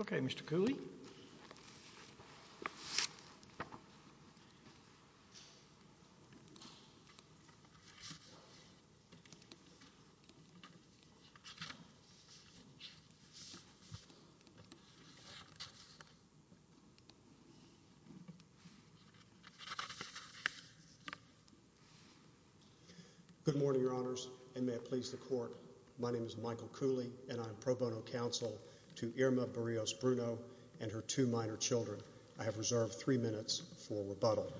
Okay, Mr. Cooley. Good morning, Your Honors, and may it please the Court, my name is Michael Cooley and I have reserved three minutes for rebuttal.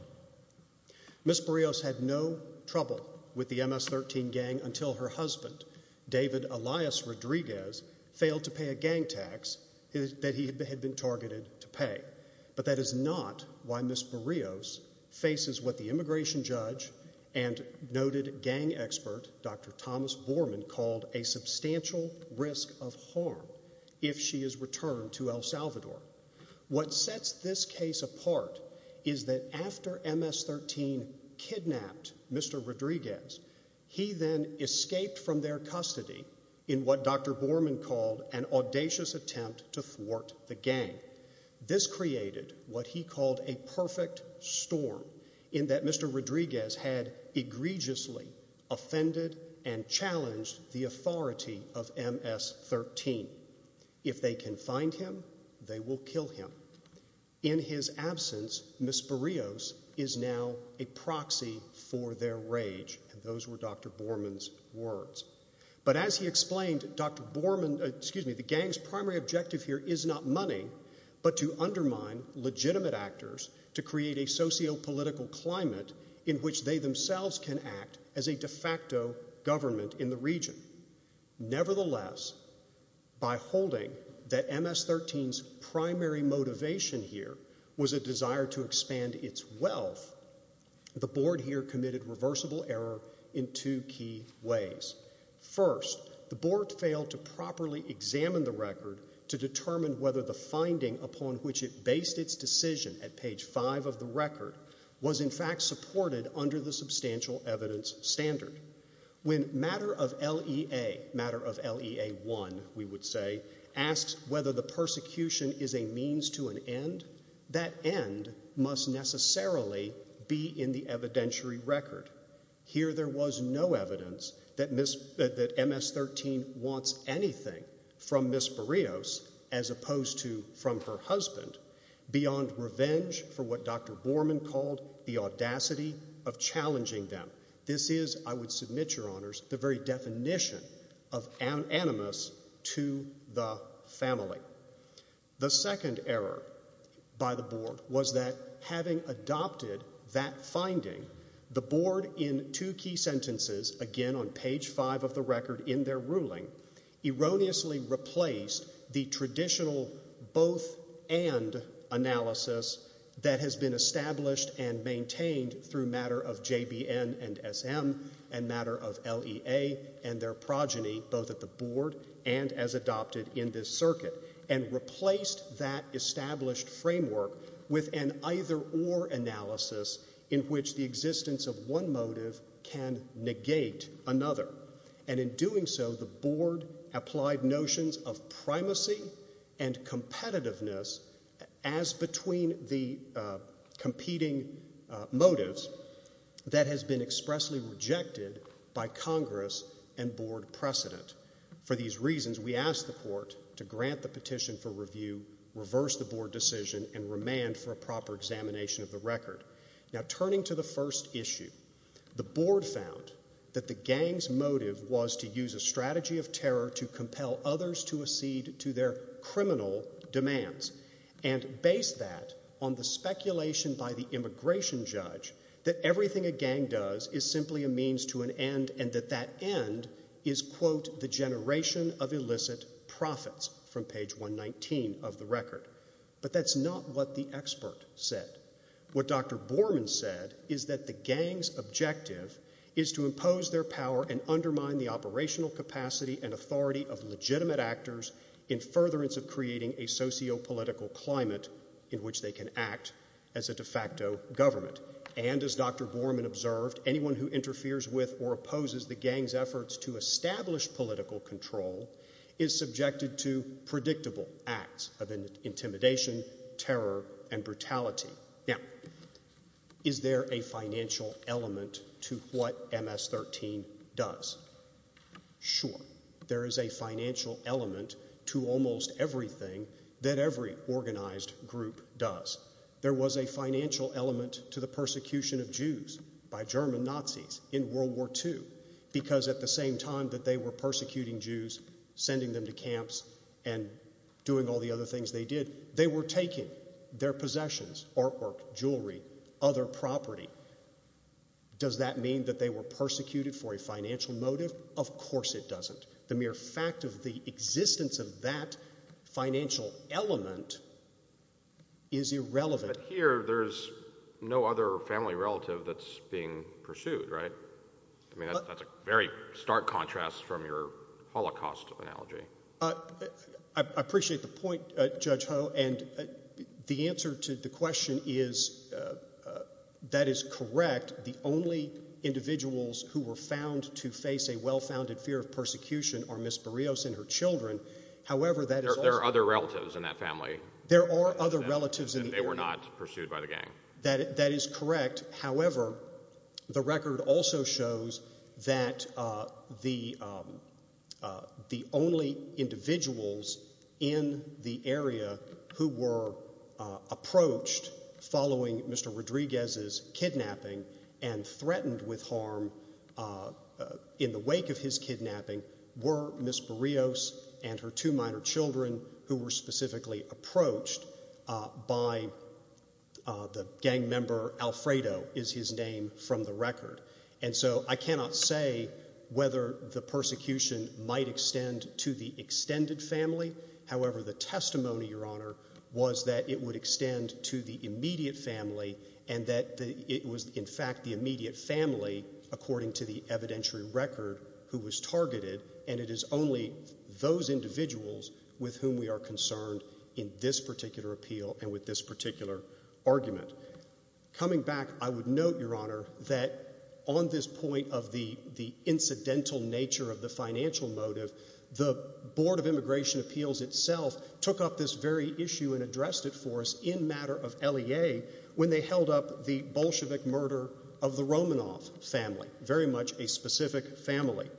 Ms. Barrios had no trouble with the MS-13 gang until her husband, David Elias Rodriguez, failed to pay a gang tax that he had been targeted to pay. But that is not why Ms. Barrios faces what the immigration judge and noted gang expert Dr. Thomas Borman called a substantial risk of harm if she is returned to El Salvador. What sets this case apart is that after MS-13 kidnapped Mr. Rodriguez, he then escaped from their custody in what Dr. Borman called an audacious attempt to thwart the gang. This created what he called a perfect storm in that Mr. Rodriguez had egregiously offended and challenged the authority of MS-13. If they can find him, they will kill him. In his absence, Ms. Barrios is now a proxy for their rage. And those were Dr. Borman's words. But as he explained, Dr. Borman, excuse me, the gang's primary objective here is not money but to undermine legitimate actors to create a socio-political climate in which they themselves can act as a de facto government in the region. Nevertheless, by holding that MS-13's primary motivation here was a desire to expand its First, the board failed to properly examine the record to determine whether the finding upon which it based its decision at page 5 of the record was in fact supported under the substantial evidence standard. When matter of LEA, matter of LEA 1 we would say, asks whether the persecution is a means to an end, that end must necessarily be in the evidentiary record. Here there was no evidence that MS-13 wants anything from Ms. Barrios as opposed to from her husband beyond revenge for what Dr. Borman called the audacity of challenging them. This is, I would submit, Your Honors, the very definition of animus to the family. The second error by the board was that having adopted that finding, the board in two key sentences, again on page 5 of the record in their ruling, erroneously replaced the traditional both and analysis that has been established and maintained through matter of JBN and SM and matter of LEA and their progeny both at the board and as adopted in this circuit and replaced that established framework with an either or analysis in which the existence of one motive can negate another. And in doing so, the board applied notions of primacy and competitiveness as between the competing motives that has been expressly rejected by Congress and board precedent. For these reasons, we asked the court to grant the petition for review, reverse the board decision and remand for a proper examination of the record. Now turning to the first issue, the board found that the gang's motive was to use a on the speculation by the immigration judge that everything a gang does is simply a means to an end and that that end is, quote, the generation of illicit profits from page 119 of the record. But that's not what the expert said. What Dr. Borman said is that the gang's objective is to impose their power and undermine the operational capacity and authority of legitimate actors in furtherance of creating a sociopolitical climate in which they can act as a de facto government. And as Dr. Borman observed, anyone who interferes with or opposes the gang's efforts to establish political control is subjected to predictable acts of intimidation, terror and brutality. Now, is there a financial element to what MS-13 does? Sure. There is a financial element to almost everything that every organized group does. There was a financial element to the persecution of Jews by German Nazis in World War II because at the same time that they were persecuting Jews, sending them to camps and doing all the other things they did, they were taking their possessions, artwork, jewelry, other property. Does that mean that they were persecuted for a financial motive? Of course it doesn't. The mere fact of the existence of that financial element is irrelevant. But here, there's no other family relative that's being pursued, right? I mean, that's a very stark contrast from your Holocaust analogy. I appreciate the point, Judge Ho, and the answer to the question is, that is correct. The only individuals who were found to face a well-founded fear of persecution are Ms. Barrios and her children. However, that is also... There are other relatives in that family. There are other relatives in the area. And they were not pursued by the gang. That is correct. However, the record also shows that the only individuals in the area who were approached following Mr. Rodriguez's kidnapping and threatened with harm in the wake of his kidnapping were Ms. Barrios and her two minor children, who were specifically approached by the gang member Alfredo, is his name from the record. And so, I cannot say whether the persecution might extend to the extended family. However, the testimony, Your Honor, was that it would extend to the immediate family and that it was, in fact, the immediate family, according to the evidentiary record, who was targeted. And it is only those individuals with whom we are concerned in this particular appeal and with this particular argument. Coming back, I would note, Your Honor, that on this point of the incidental nature of the financial motive, the Board of Immigration Appeals itself took up this very issue and addressed it for us in matter of LEA when they held up the Bolshevik murder of the Romanov family, very much a specific family.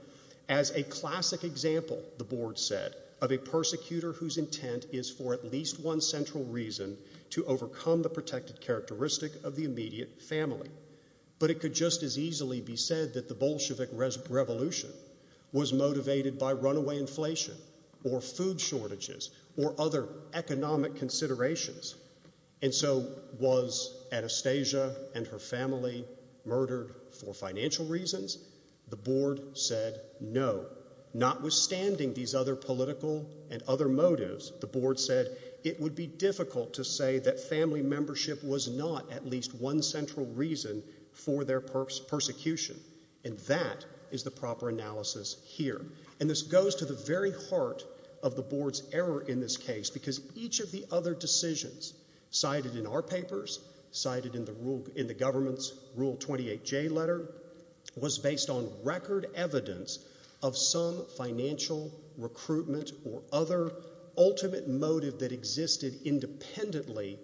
As a classic example, the Board said, of a persecutor whose intent is for at least one central reason to overcome the protected characteristic of the immediate family. But it could just as easily be said that the Bolshevik revolution was motivated by runaway inflation or food shortages or other economic considerations. And so, was Anastasia and her family murdered for financial reasons? The Board said, no. Notwithstanding these other political and other motives, the Board said it would be difficult to say that family membership was not at least one central reason for their persecution. And that is the proper analysis here. And this goes to the very heart of the Board's error in this case because each of the other based on record evidence of some financial recruitment or other ultimate motive that existed independently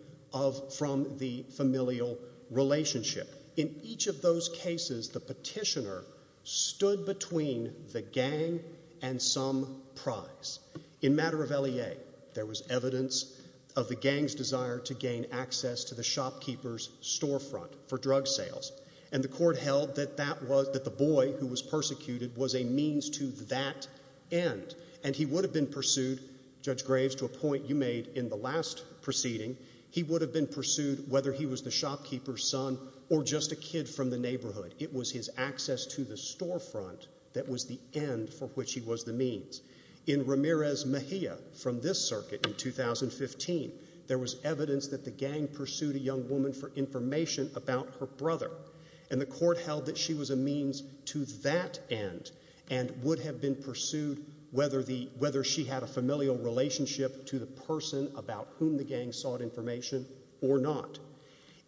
from the familial relationship. In each of those cases, the petitioner stood between the gang and some prize. In matter of LEA, there was evidence of the gang's desire to gain access to the shopkeeper's storefront for drug sales. And the court held that the boy who was persecuted was a means to that end. And he would have been pursued, Judge Graves, to a point you made in the last proceeding, he would have been pursued whether he was the shopkeeper's son or just a kid from the neighborhood. It was his access to the storefront that was the end for which he was the means. In Ramirez Mejia from this circuit in 2015, there was evidence that the gang pursued a And the court held that she was a means to that end and would have been pursued whether she had a familial relationship to the person about whom the gang sought information or not.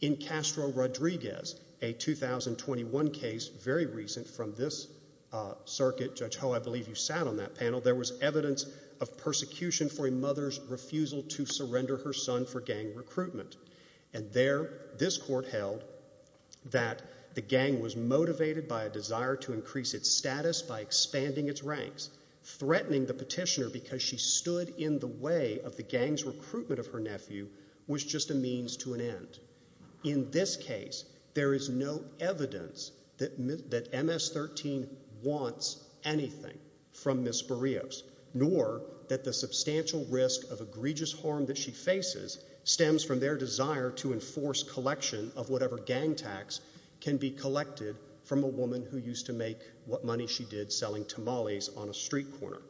In Castro Rodriguez, a 2021 case, very recent from this circuit, Judge Ho, I believe you sat on that panel, there was evidence of persecution for a mother's refusal to surrender her son for gang recruitment. And there, this court held that the gang was motivated by a desire to increase its status by expanding its ranks, threatening the petitioner because she stood in the way of the gang's recruitment of her nephew was just a means to an end. In this case, there is no evidence that MS-13 wants anything from Ms. Barrios, nor that the substantial risk of egregious harm that she faces stems from their desire to enforce collection of whatever gang tax can be collected from a woman who used to make what money she did selling tamales on a street corner.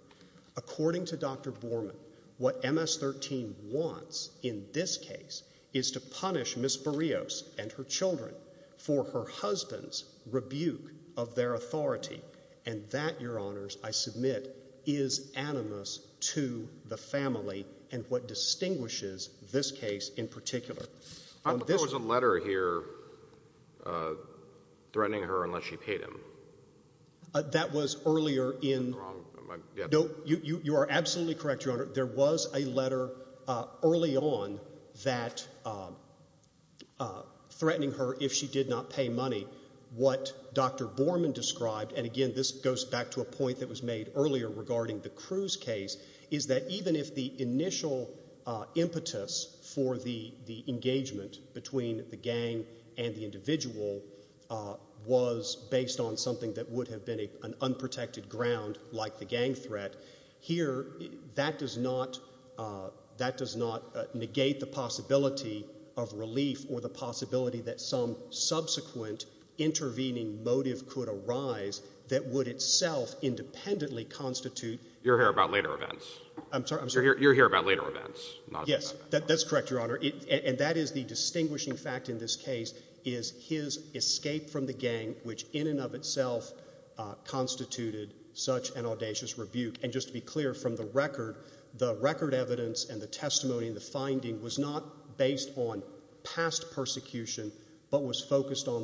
According to Dr. Borman, what MS-13 wants in this case is to punish Ms. Barrios and her children for her husband's rebuke of their authority. And that, Your Honors, I submit, is animus to the family and what distinguishes this case in particular. I thought there was a letter here threatening her unless she paid him. That was earlier in... Am I wrong? Yeah. No, you are absolutely correct, Your Honor. There was a letter early on that threatening her if she did not pay money, what Dr. Borman described, and again, this goes back to a point that was made earlier regarding the Cruz case, is that even if the initial impetus for the engagement between the gang and the individual was based on something that would have been an unprotected ground like the gang threat, here that does not negate the possibility of relief or the possibility that some subsequent intervening motive could arise that would itself independently constitute... You're here about later events. I'm sorry? I'm sorry. You're here about later events. Yes. That's correct, Your Honor. And that is the distinguishing fact in this case, is his escape from the gang, which in and of itself constituted such an audacious rebuke. And just to be clear, from the record, the record evidence and the testimony and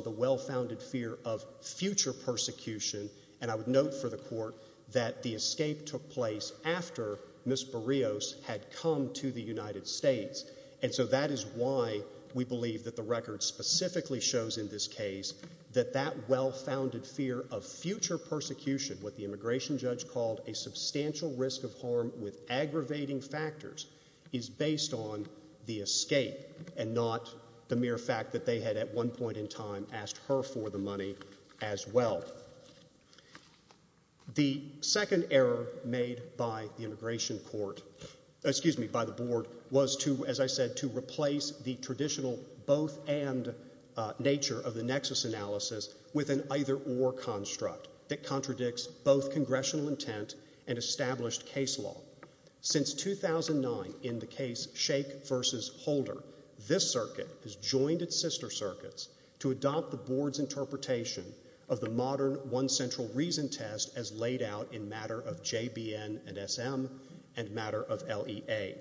the well-founded fear of future persecution, and I would note for the Court that the escape took place after Ms. Barrios had come to the United States, and so that is why we believe that the record specifically shows in this case that that well-founded fear of future persecution, what the immigration judge called a substantial risk of harm with aggravating factors, is based on the escape and not the mere fact that they had at one point in time asked her for the money as well. The second error made by the immigration court, excuse me, by the Board, was to, as I said, to replace the traditional both-and nature of the nexus analysis with an either-or construct that contradicts both congressional intent and established case law. Since 2009, in the case Shake v. Holder, this circuit has joined its sister circuits to adopt the Board's interpretation of the modern one-central-reason test as laid out in matter of JBN and SM and matter of LEA.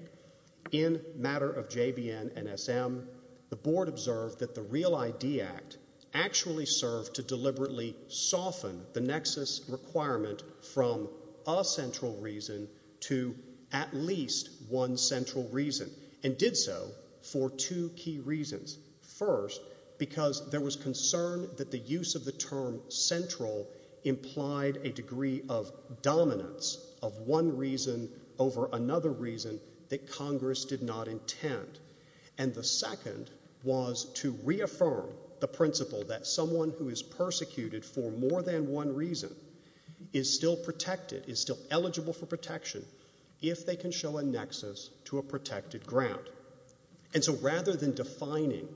In matter of JBN and SM, the Board observed that the Real ID Act actually served to deliberately soften the nexus requirement from a central reason to at least one central reason, and there was concern that the use of the term central implied a degree of dominance of one reason over another reason that Congress did not intend. And the second was to reaffirm the principle that someone who is persecuted for more than one reason is still protected, is still eligible for protection, if they can show a nexus to a protected grant. And so rather than defining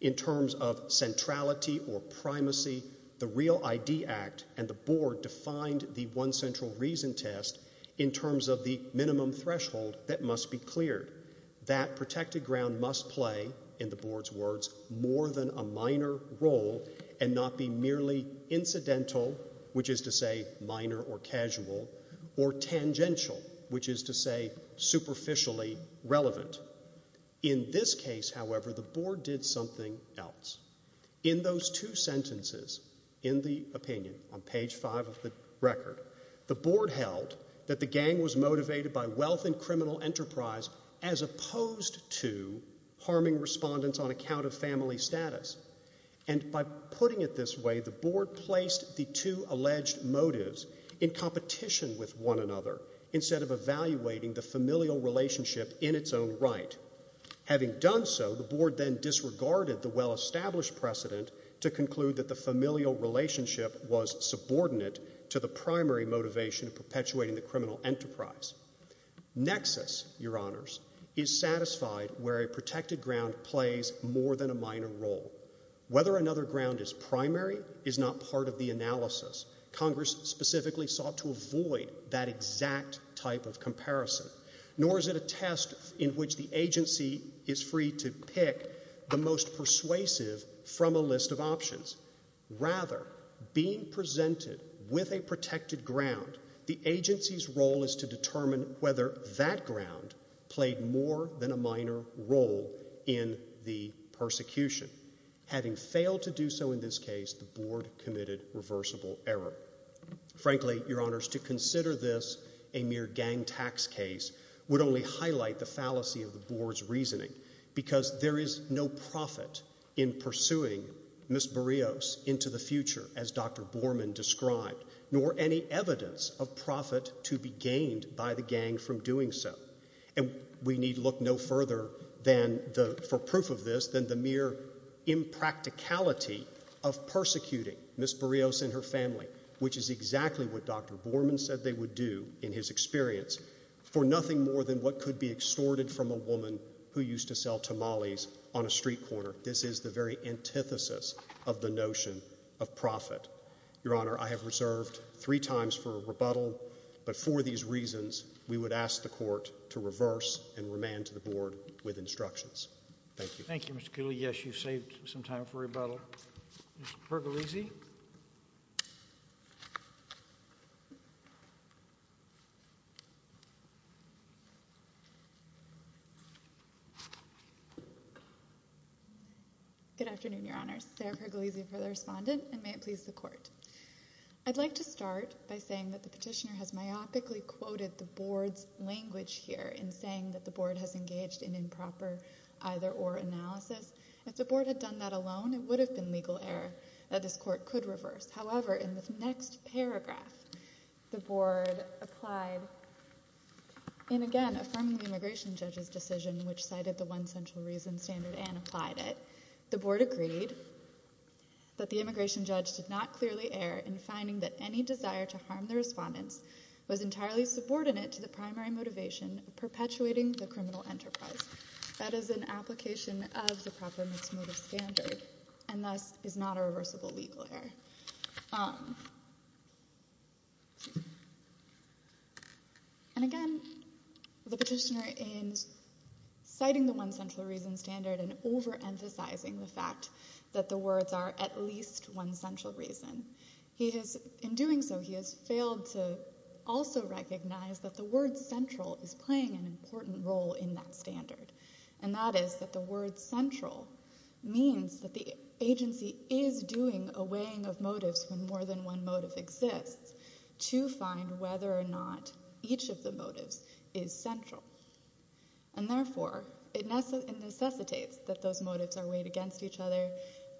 in terms of centrality or primacy, the Real ID Act and the Board defined the one-central-reason test in terms of the minimum threshold that must be cleared. That protected grant must play, in the Board's words, more than a minor role and not be merely incidental, which is to say minor or casual, or tangential, which is to say superficially relevant. In this case, however, the Board did something else. In those two sentences, in the opinion, on page five of the record, the Board held that the gang was motivated by wealth and criminal enterprise as opposed to harming respondents on account of family status. And by putting it this way, the Board placed the two alleged motives in competition with one another instead of evaluating the familial relationship in its own right. Having done so, the Board then disregarded the well-established precedent to conclude that the familial relationship was subordinate to the primary motivation of perpetuating the criminal enterprise. Nexus, Your Honors, is satisfied where a protected grant plays more than a minor role. Whether another grant is primary is not part of the analysis. Congress specifically sought to avoid that exact type of comparison, nor is it a test in which the agency is free to pick the most persuasive from a list of options. Rather, being presented with a protected grant, the agency's role is to determine whether that grant played more than a minor role in the persecution. Having failed to do so in this case, the Board committed reversible error. Frankly, Your Honors, to consider this a mere gang tax case would only highlight the fallacy of the Board's reasoning, because there is no profit in pursuing Ms. Borios into the future as Dr. Borman described, nor any evidence of profit to be gained by the gang from doing so. And we need look no further for proof of this than the mere impracticality of persecuting Ms. Borios and her family, which is exactly what Dr. Borman said they would do in his to sell tamales on a street corner. This is the very antithesis of the notion of profit. Your Honor, I have reserved three times for rebuttal, but for these reasons, we would ask the Court to reverse and remand to the Board with instructions. Thank you. Thank you, Mr. Cooley. Maybe, yes, you've saved some time for rebuttal. Ms. Pergolese? Good afternoon, Your Honors. Sarah Pergolese for the Respondent, and may it please the Court. I'd like to start by saying that the Petitioner has myopically quoted the Board's language here in saying that the Board has engaged in improper either-or analysis. If the Board had done that alone, it would have been legal error that this Court could reverse. However, in the next paragraph, the Board applied in, again, affirming the Immigration Judge's decision, which cited the one central reason standard and applied it. The Board agreed that the Immigration Judge did not clearly err in finding that any desire to harm the Respondents was entirely subordinate to the primary motivation of perpetuating the criminal enterprise. That is an application of the proper mixed-motive standard, and thus is not a reversible legal error. And again, the Petitioner, in citing the one central reason standard and overemphasizing the fact that the words are at least one central reason, he has, in doing so, he has failed to also recognize that the word central is playing an important role in that standard. And that is that the word central means that the agency is doing a weighing of motives when more than one motive exists to find whether or not each of the motives is central. And therefore, it necessitates that those motives are weighed against each other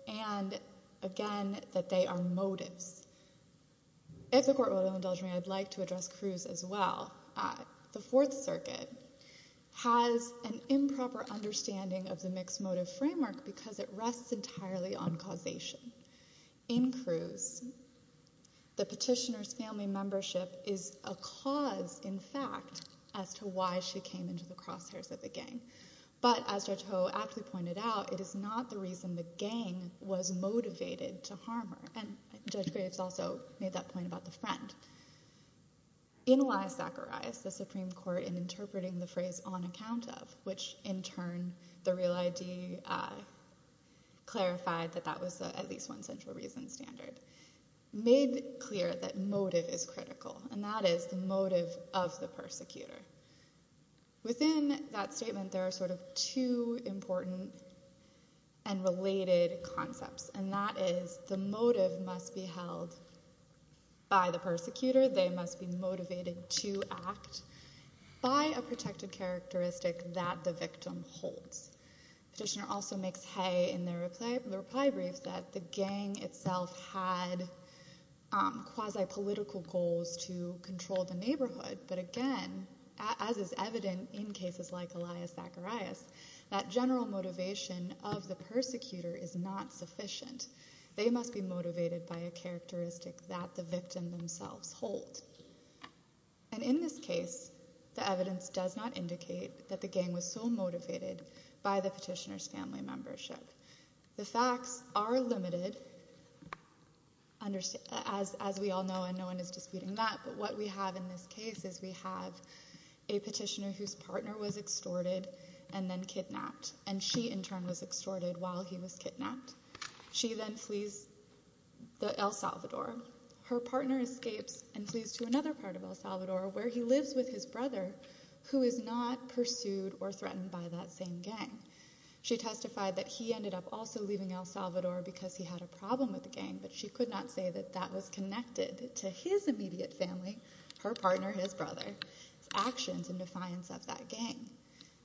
and, again, that they are motives. If the Court will indulge me, I'd like to address Cruz as well. The Fourth Circuit has an improper understanding of the mixed-motive framework because it rests entirely on causation. In Cruz, the Petitioner's family membership is a cause, in fact, as to why she came into the crosshairs of the gang. But as Judge Ho aptly pointed out, it is not the reason the gang was motivated to harm her. And Judge Graves also made that point about the friend. In Wise-Zacharias, the Supreme Court, in interpreting the phrase on account of, which, in turn, the Real ID clarified that that was at least one central reason standard, made clear that motive is critical, and that is the motive of the persecutor. Within that statement, there are sort of two important and related concepts, and that is the motive must be held by the persecutor, they must be motivated to act by a protected characteristic that the victim holds. Petitioner also makes hay in their reply brief that the gang itself had quasi-political goals to control the neighborhood, but again, as is evident in cases like Elias-Zacharias, that general motivation of the persecutor is not sufficient. They must be motivated by a characteristic that the victim themselves hold. And in this case, the evidence does not indicate that the gang was so motivated by the petitioner's family membership. The facts are limited, as we all know, and no one is disputing that, but what we have in this case is we have a petitioner whose partner was extorted and then kidnapped, and she in turn was extorted while he was kidnapped. She then flees El Salvador. Her partner escapes and flees to another part of El Salvador where he lives with his brother who is not pursued or threatened by that same gang. She testified that he ended up also leaving El Salvador because he had a problem with the gang, but she could not say that that was connected to his immediate family, her partner, his brother's actions in defiance of that gang.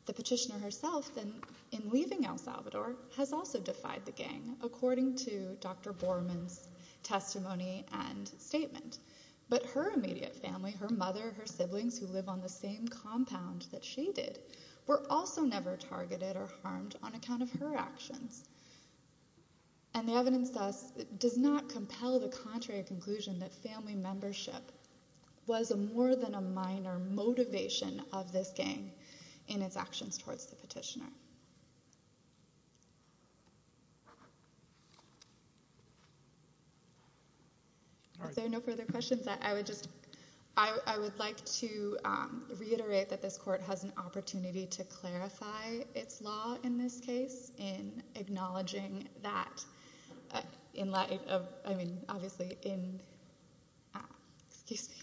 The petitioner herself then, in leaving El Salvador, has also defied the gang. According to Dr. Borman's testimony and statement. But her immediate family, her mother, her siblings who live on the same compound that she did, were also never targeted or harmed on account of her actions. And the evidence thus does not compel the contrary conclusion that family membership was more than a minor motivation of this gang in its actions towards the petitioner. If there are no further questions, I would just, I would like to reiterate that this court has an opportunity to clarify its law in this case in acknowledging that in light of, I mean, obviously in, excuse me,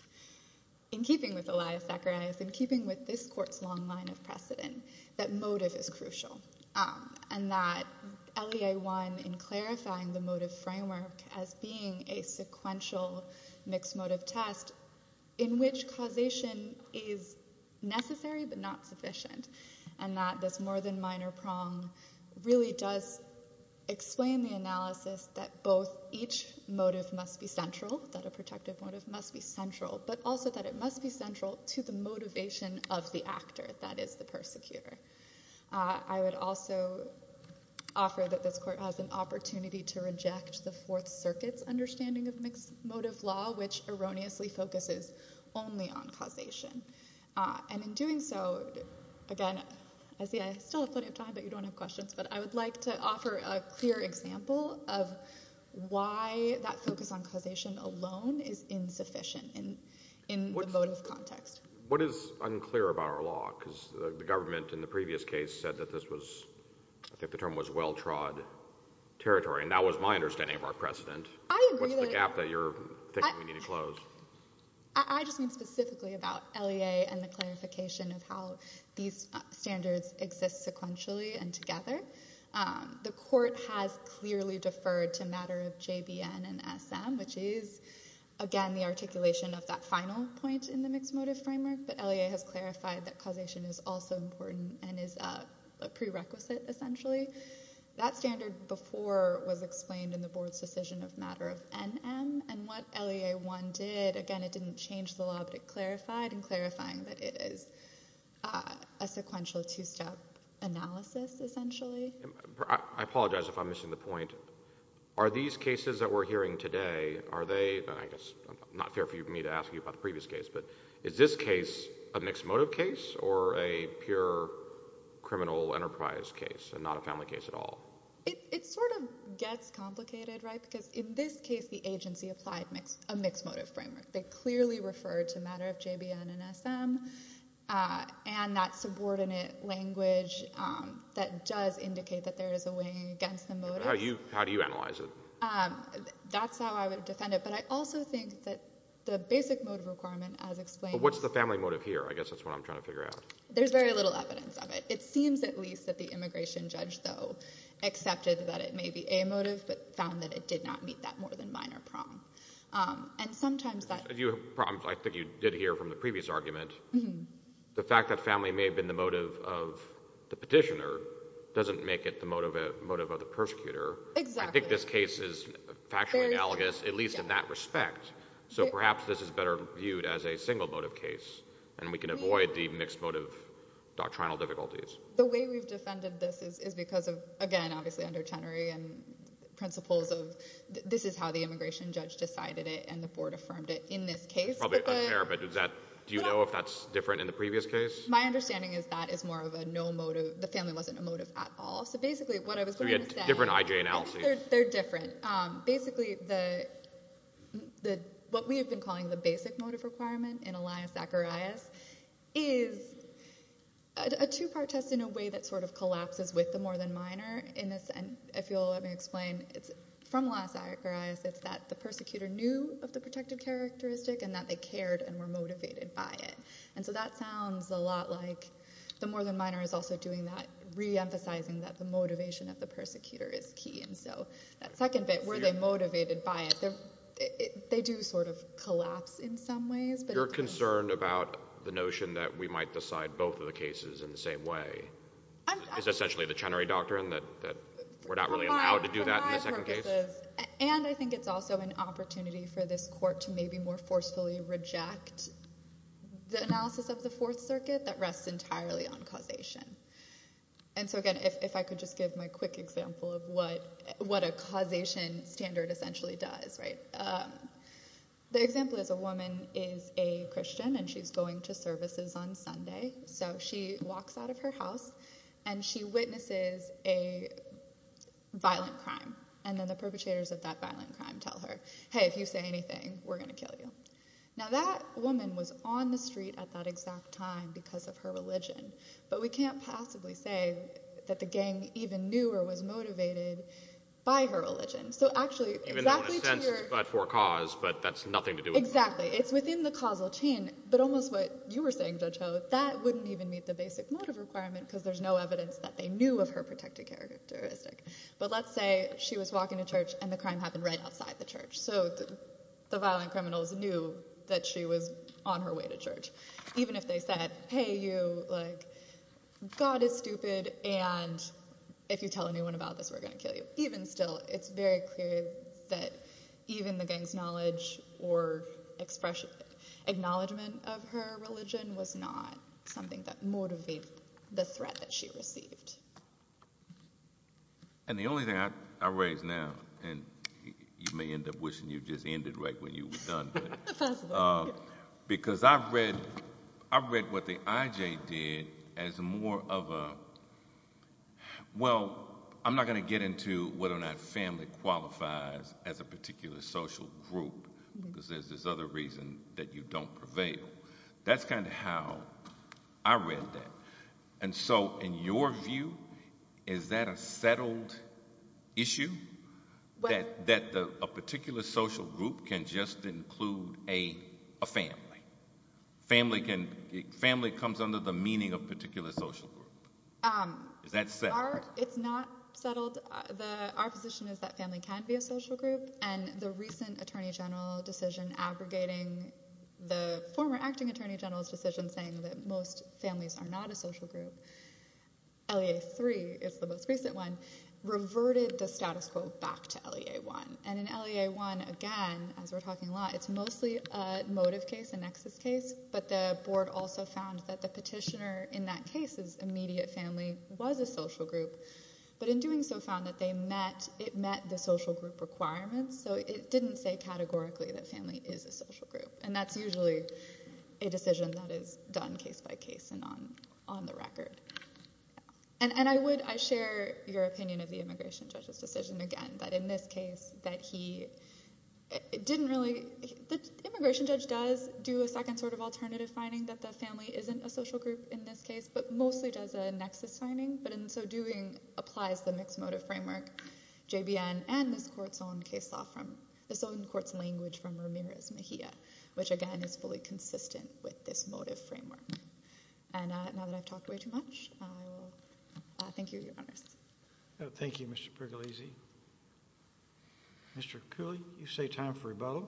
in keeping with Elias Zacharias, in keeping with this one, in clarifying the motive framework as being a sequential mixed motive test in which causation is necessary but not sufficient. And that this more than minor prong really does explain the analysis that both each motive must be central, that a protective motive must be central, but also that it must be central to the motivation of the actor that is the persecutor. I would also offer that this court has an opportunity to reject the Fourth Circuit's understanding of mixed motive law, which erroneously focuses only on causation. And in doing so, again, I see I still have plenty of time but you don't have questions, but I would like to offer a clear example of why that focus on causation alone is insufficient in the motive context. What is unclear about our law, because the government in the previous case said that this was, I think the term was well-trod territory, and that was my understanding of our precedent. I agree that... What's the gap that you're thinking we need to close? I just mean specifically about LEA and the clarification of how these standards exist sequentially and together. The court has clearly deferred to matter of JBN and SM, which is, again, the articulation of that final point in the mixed motive framework, but LEA has clarified that causation is also important and is a prerequisite, essentially. That standard before was explained in the board's decision of matter of NM, and what LEA 1 did, again, it didn't change the law, but it clarified, and clarifying that it is a sequential two-step analysis, essentially. I apologize if I'm missing the point. Are these cases that we're hearing today, are they, and I guess it's not fair for me to ask you about the previous case, but is this case a mixed motive case, or a pure criminal enterprise case, and not a family case at all? It sort of gets complicated, right, because in this case, the agency applied a mixed motive framework. They clearly referred to matter of JBN and SM, and that subordinate language that does indicate that there is a weighing against the motive. How do you analyze it? That's how I would defend it, but I also think that the basic motive requirement, as explained What's the family motive here? I guess that's what I'm trying to figure out. There's very little evidence of it. It seems, at least, that the immigration judge, though, accepted that it may be a motive, but found that it did not meet that more than minor prong, and sometimes that If you have problems, I think you did hear from the previous argument, the fact that motive of the persecutor. Exactly. I think this case is factually analogous, at least in that respect, so perhaps this is better viewed as a single motive case, and we can avoid the mixed motive doctrinal difficulties. The way we've defended this is because of, again, obviously under Chenery and principles of this is how the immigration judge decided it, and the board affirmed it in this case. Probably unfair, but do you know if that's different in the previous case? My understanding is that is more of a no motive, the family wasn't a motive at all, so basically what I was trying to say Different IJ analysis They're different. Basically, what we have been calling the basic motive requirement in Elias Zacharias is a two-part test in a way that sort of collapses with the more than minor. If you'll let me explain, it's from Elias Zacharias, it's that the persecutor knew of the protected characteristic, and that they cared and were motivated by it. And so that sounds a lot like the more than minor is also doing that, reemphasizing that the motivation of the persecutor is key, and so that second bit, were they motivated by it, they do sort of collapse in some ways, but You're concerned about the notion that we might decide both of the cases in the same way. I'm It's essentially the Chenery doctrine that we're not really allowed to do that in the second case. For my purposes, and I think it's also an opportunity for this court to maybe more forcefully reject the analysis of the fourth circuit that rests entirely on causation. And so again, if I could just give my quick example of what a causation standard essentially does, right? The example is a woman is a Christian, and she's going to services on Sunday, so she walks out of her house, and she witnesses a violent crime, and then the perpetrators of that violent crime tell her, hey, if you say anything, we're going to kill you. Now that woman was on the street at that exact time because of her religion, but we can't possibly say that the gang even knew or was motivated by her religion. So actually, Even though in a sense it's but for cause, but that's nothing to do with the motive. Exactly. It's within the causal chain, but almost what you were saying, Judge Ho, that wouldn't even meet the basic motive requirement, because there's no evidence that they knew of her protected characteristic. But let's say she was walking to church, and the crime happened right outside the church, so the violent criminals knew that she was on her way to church. Even if they said, hey, you, God is stupid, and if you tell anyone about this, we're going to kill you. Even still, it's very clear that even the gang's knowledge or acknowledgment of her religion was not something that motivated the threat that she received. And the only thing I raise now, and you may end up wishing you just ended right when you were done, because I've read what the IJ did as more of a, well, I'm not going to get into whether or not family qualifies as a particular social group, because there's this other reason that you don't prevail. That's kind of how I read that. And so, in your view, is that a settled issue? That a particular social group can just include a family? Family comes under the meaning of particular social group. Is that settled? It's not settled. Our position is that family can be a social group, and the recent Attorney General decision aggregating the former acting Attorney General's decision saying that most families are not a social group, LEA 3 is the most recent one, reverted the status quo back to LEA 1. And in LEA 1, again, as we're talking a lot, it's mostly a motive case, a nexus case, but the board also found that the petitioner in that case's immediate family was a social group, but in doing so found that it met the social group requirements, so it didn't say categorically that family is a social group. And that's usually a decision that is done case by case and on the record. And I share your opinion of the immigration judge's decision, again, that in this case that he didn't really—the immigration judge does do a second sort of alternative finding that the family isn't a social group in this case, but mostly does a nexus finding, but in so doing applies the mixed motive framework, JBN, and this court's own case law from—this which, again, is fully consistent with this motive framework. And now that I've talked way too much, I will thank you, Your Honors. Thank you, Mr. Pergolizzi. Mr. Cooley, you say time for rebuttal.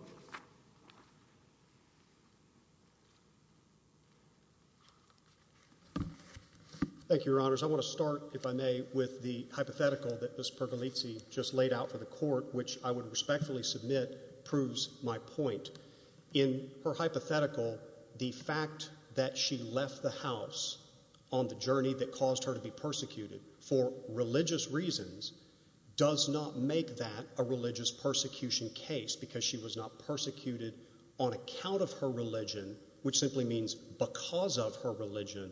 Thank you, Your Honors. I want to start, if I may, with the hypothetical that Ms. Pergolizzi just laid out for the hypothetical, the fact that she left the house on the journey that caused her to be persecuted for religious reasons does not make that a religious persecution case because she was not persecuted on account of her religion, which simply means because of her religion,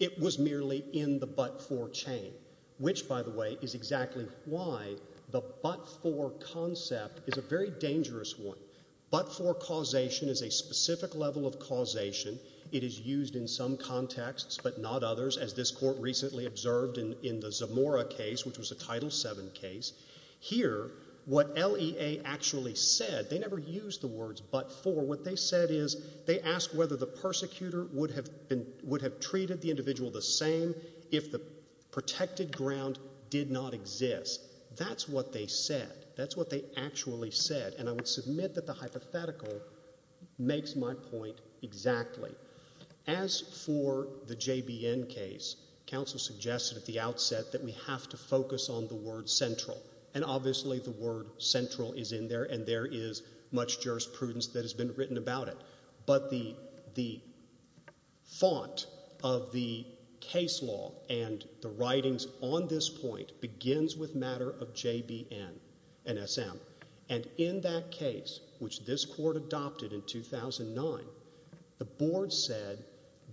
it was merely in the but-for chain, which, by the way, is exactly why the but-for concept is a very dangerous one. But-for causation is a specific level of causation. It is used in some contexts but not others, as this court recently observed in the Zamora case, which was a Title VII case. Here, what LEA actually said—they never used the words but-for. What they said is they asked whether the persecutor would have treated the individual the same if the protected ground did not exist. That's what they said. That's what they actually said. And I would submit that the hypothetical makes my point exactly. As for the JBN case, counsel suggested at the outset that we have to focus on the word central, and obviously the word central is in there, and there is much jurisprudence that has been written about it. But the font of the case law and the writings on this point begins with matter of JBN and SM. And in that case, which this court adopted in 2009, the board said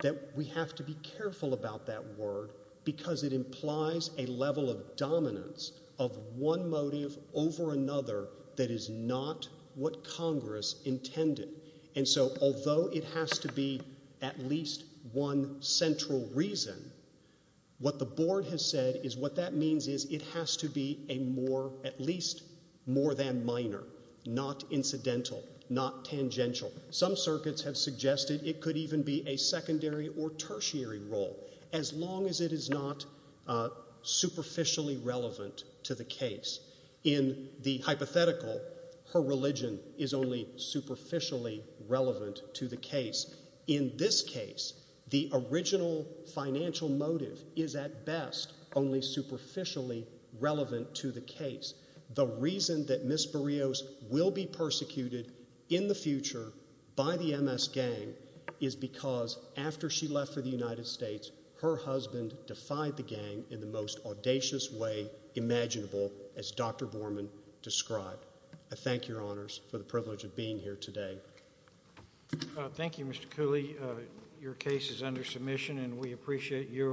that we have to be careful about that word because it implies a level of dominance of one motive over another that is not what Congress intended. And so, although it has to be at least one central reason, what the board has said is what that means is it has to be at least more than minor, not incidental, not tangential. Some circuits have suggested it could even be a secondary or tertiary role, as long as it is not superficially relevant to the case. In the hypothetical, her religion is only superficially relevant to the case. In this case, the original financial motive is at best only superficially relevant to the case. The reason that Ms. Barrios will be persecuted in the future by the MS gang is because after she left for the United States, her husband defied the gang in the most audacious way imaginable, as Dr. Borman described. I thank your honors for the privilege of being here today. Thank you, Mr. Cooley. Your case is under submission and we appreciate you.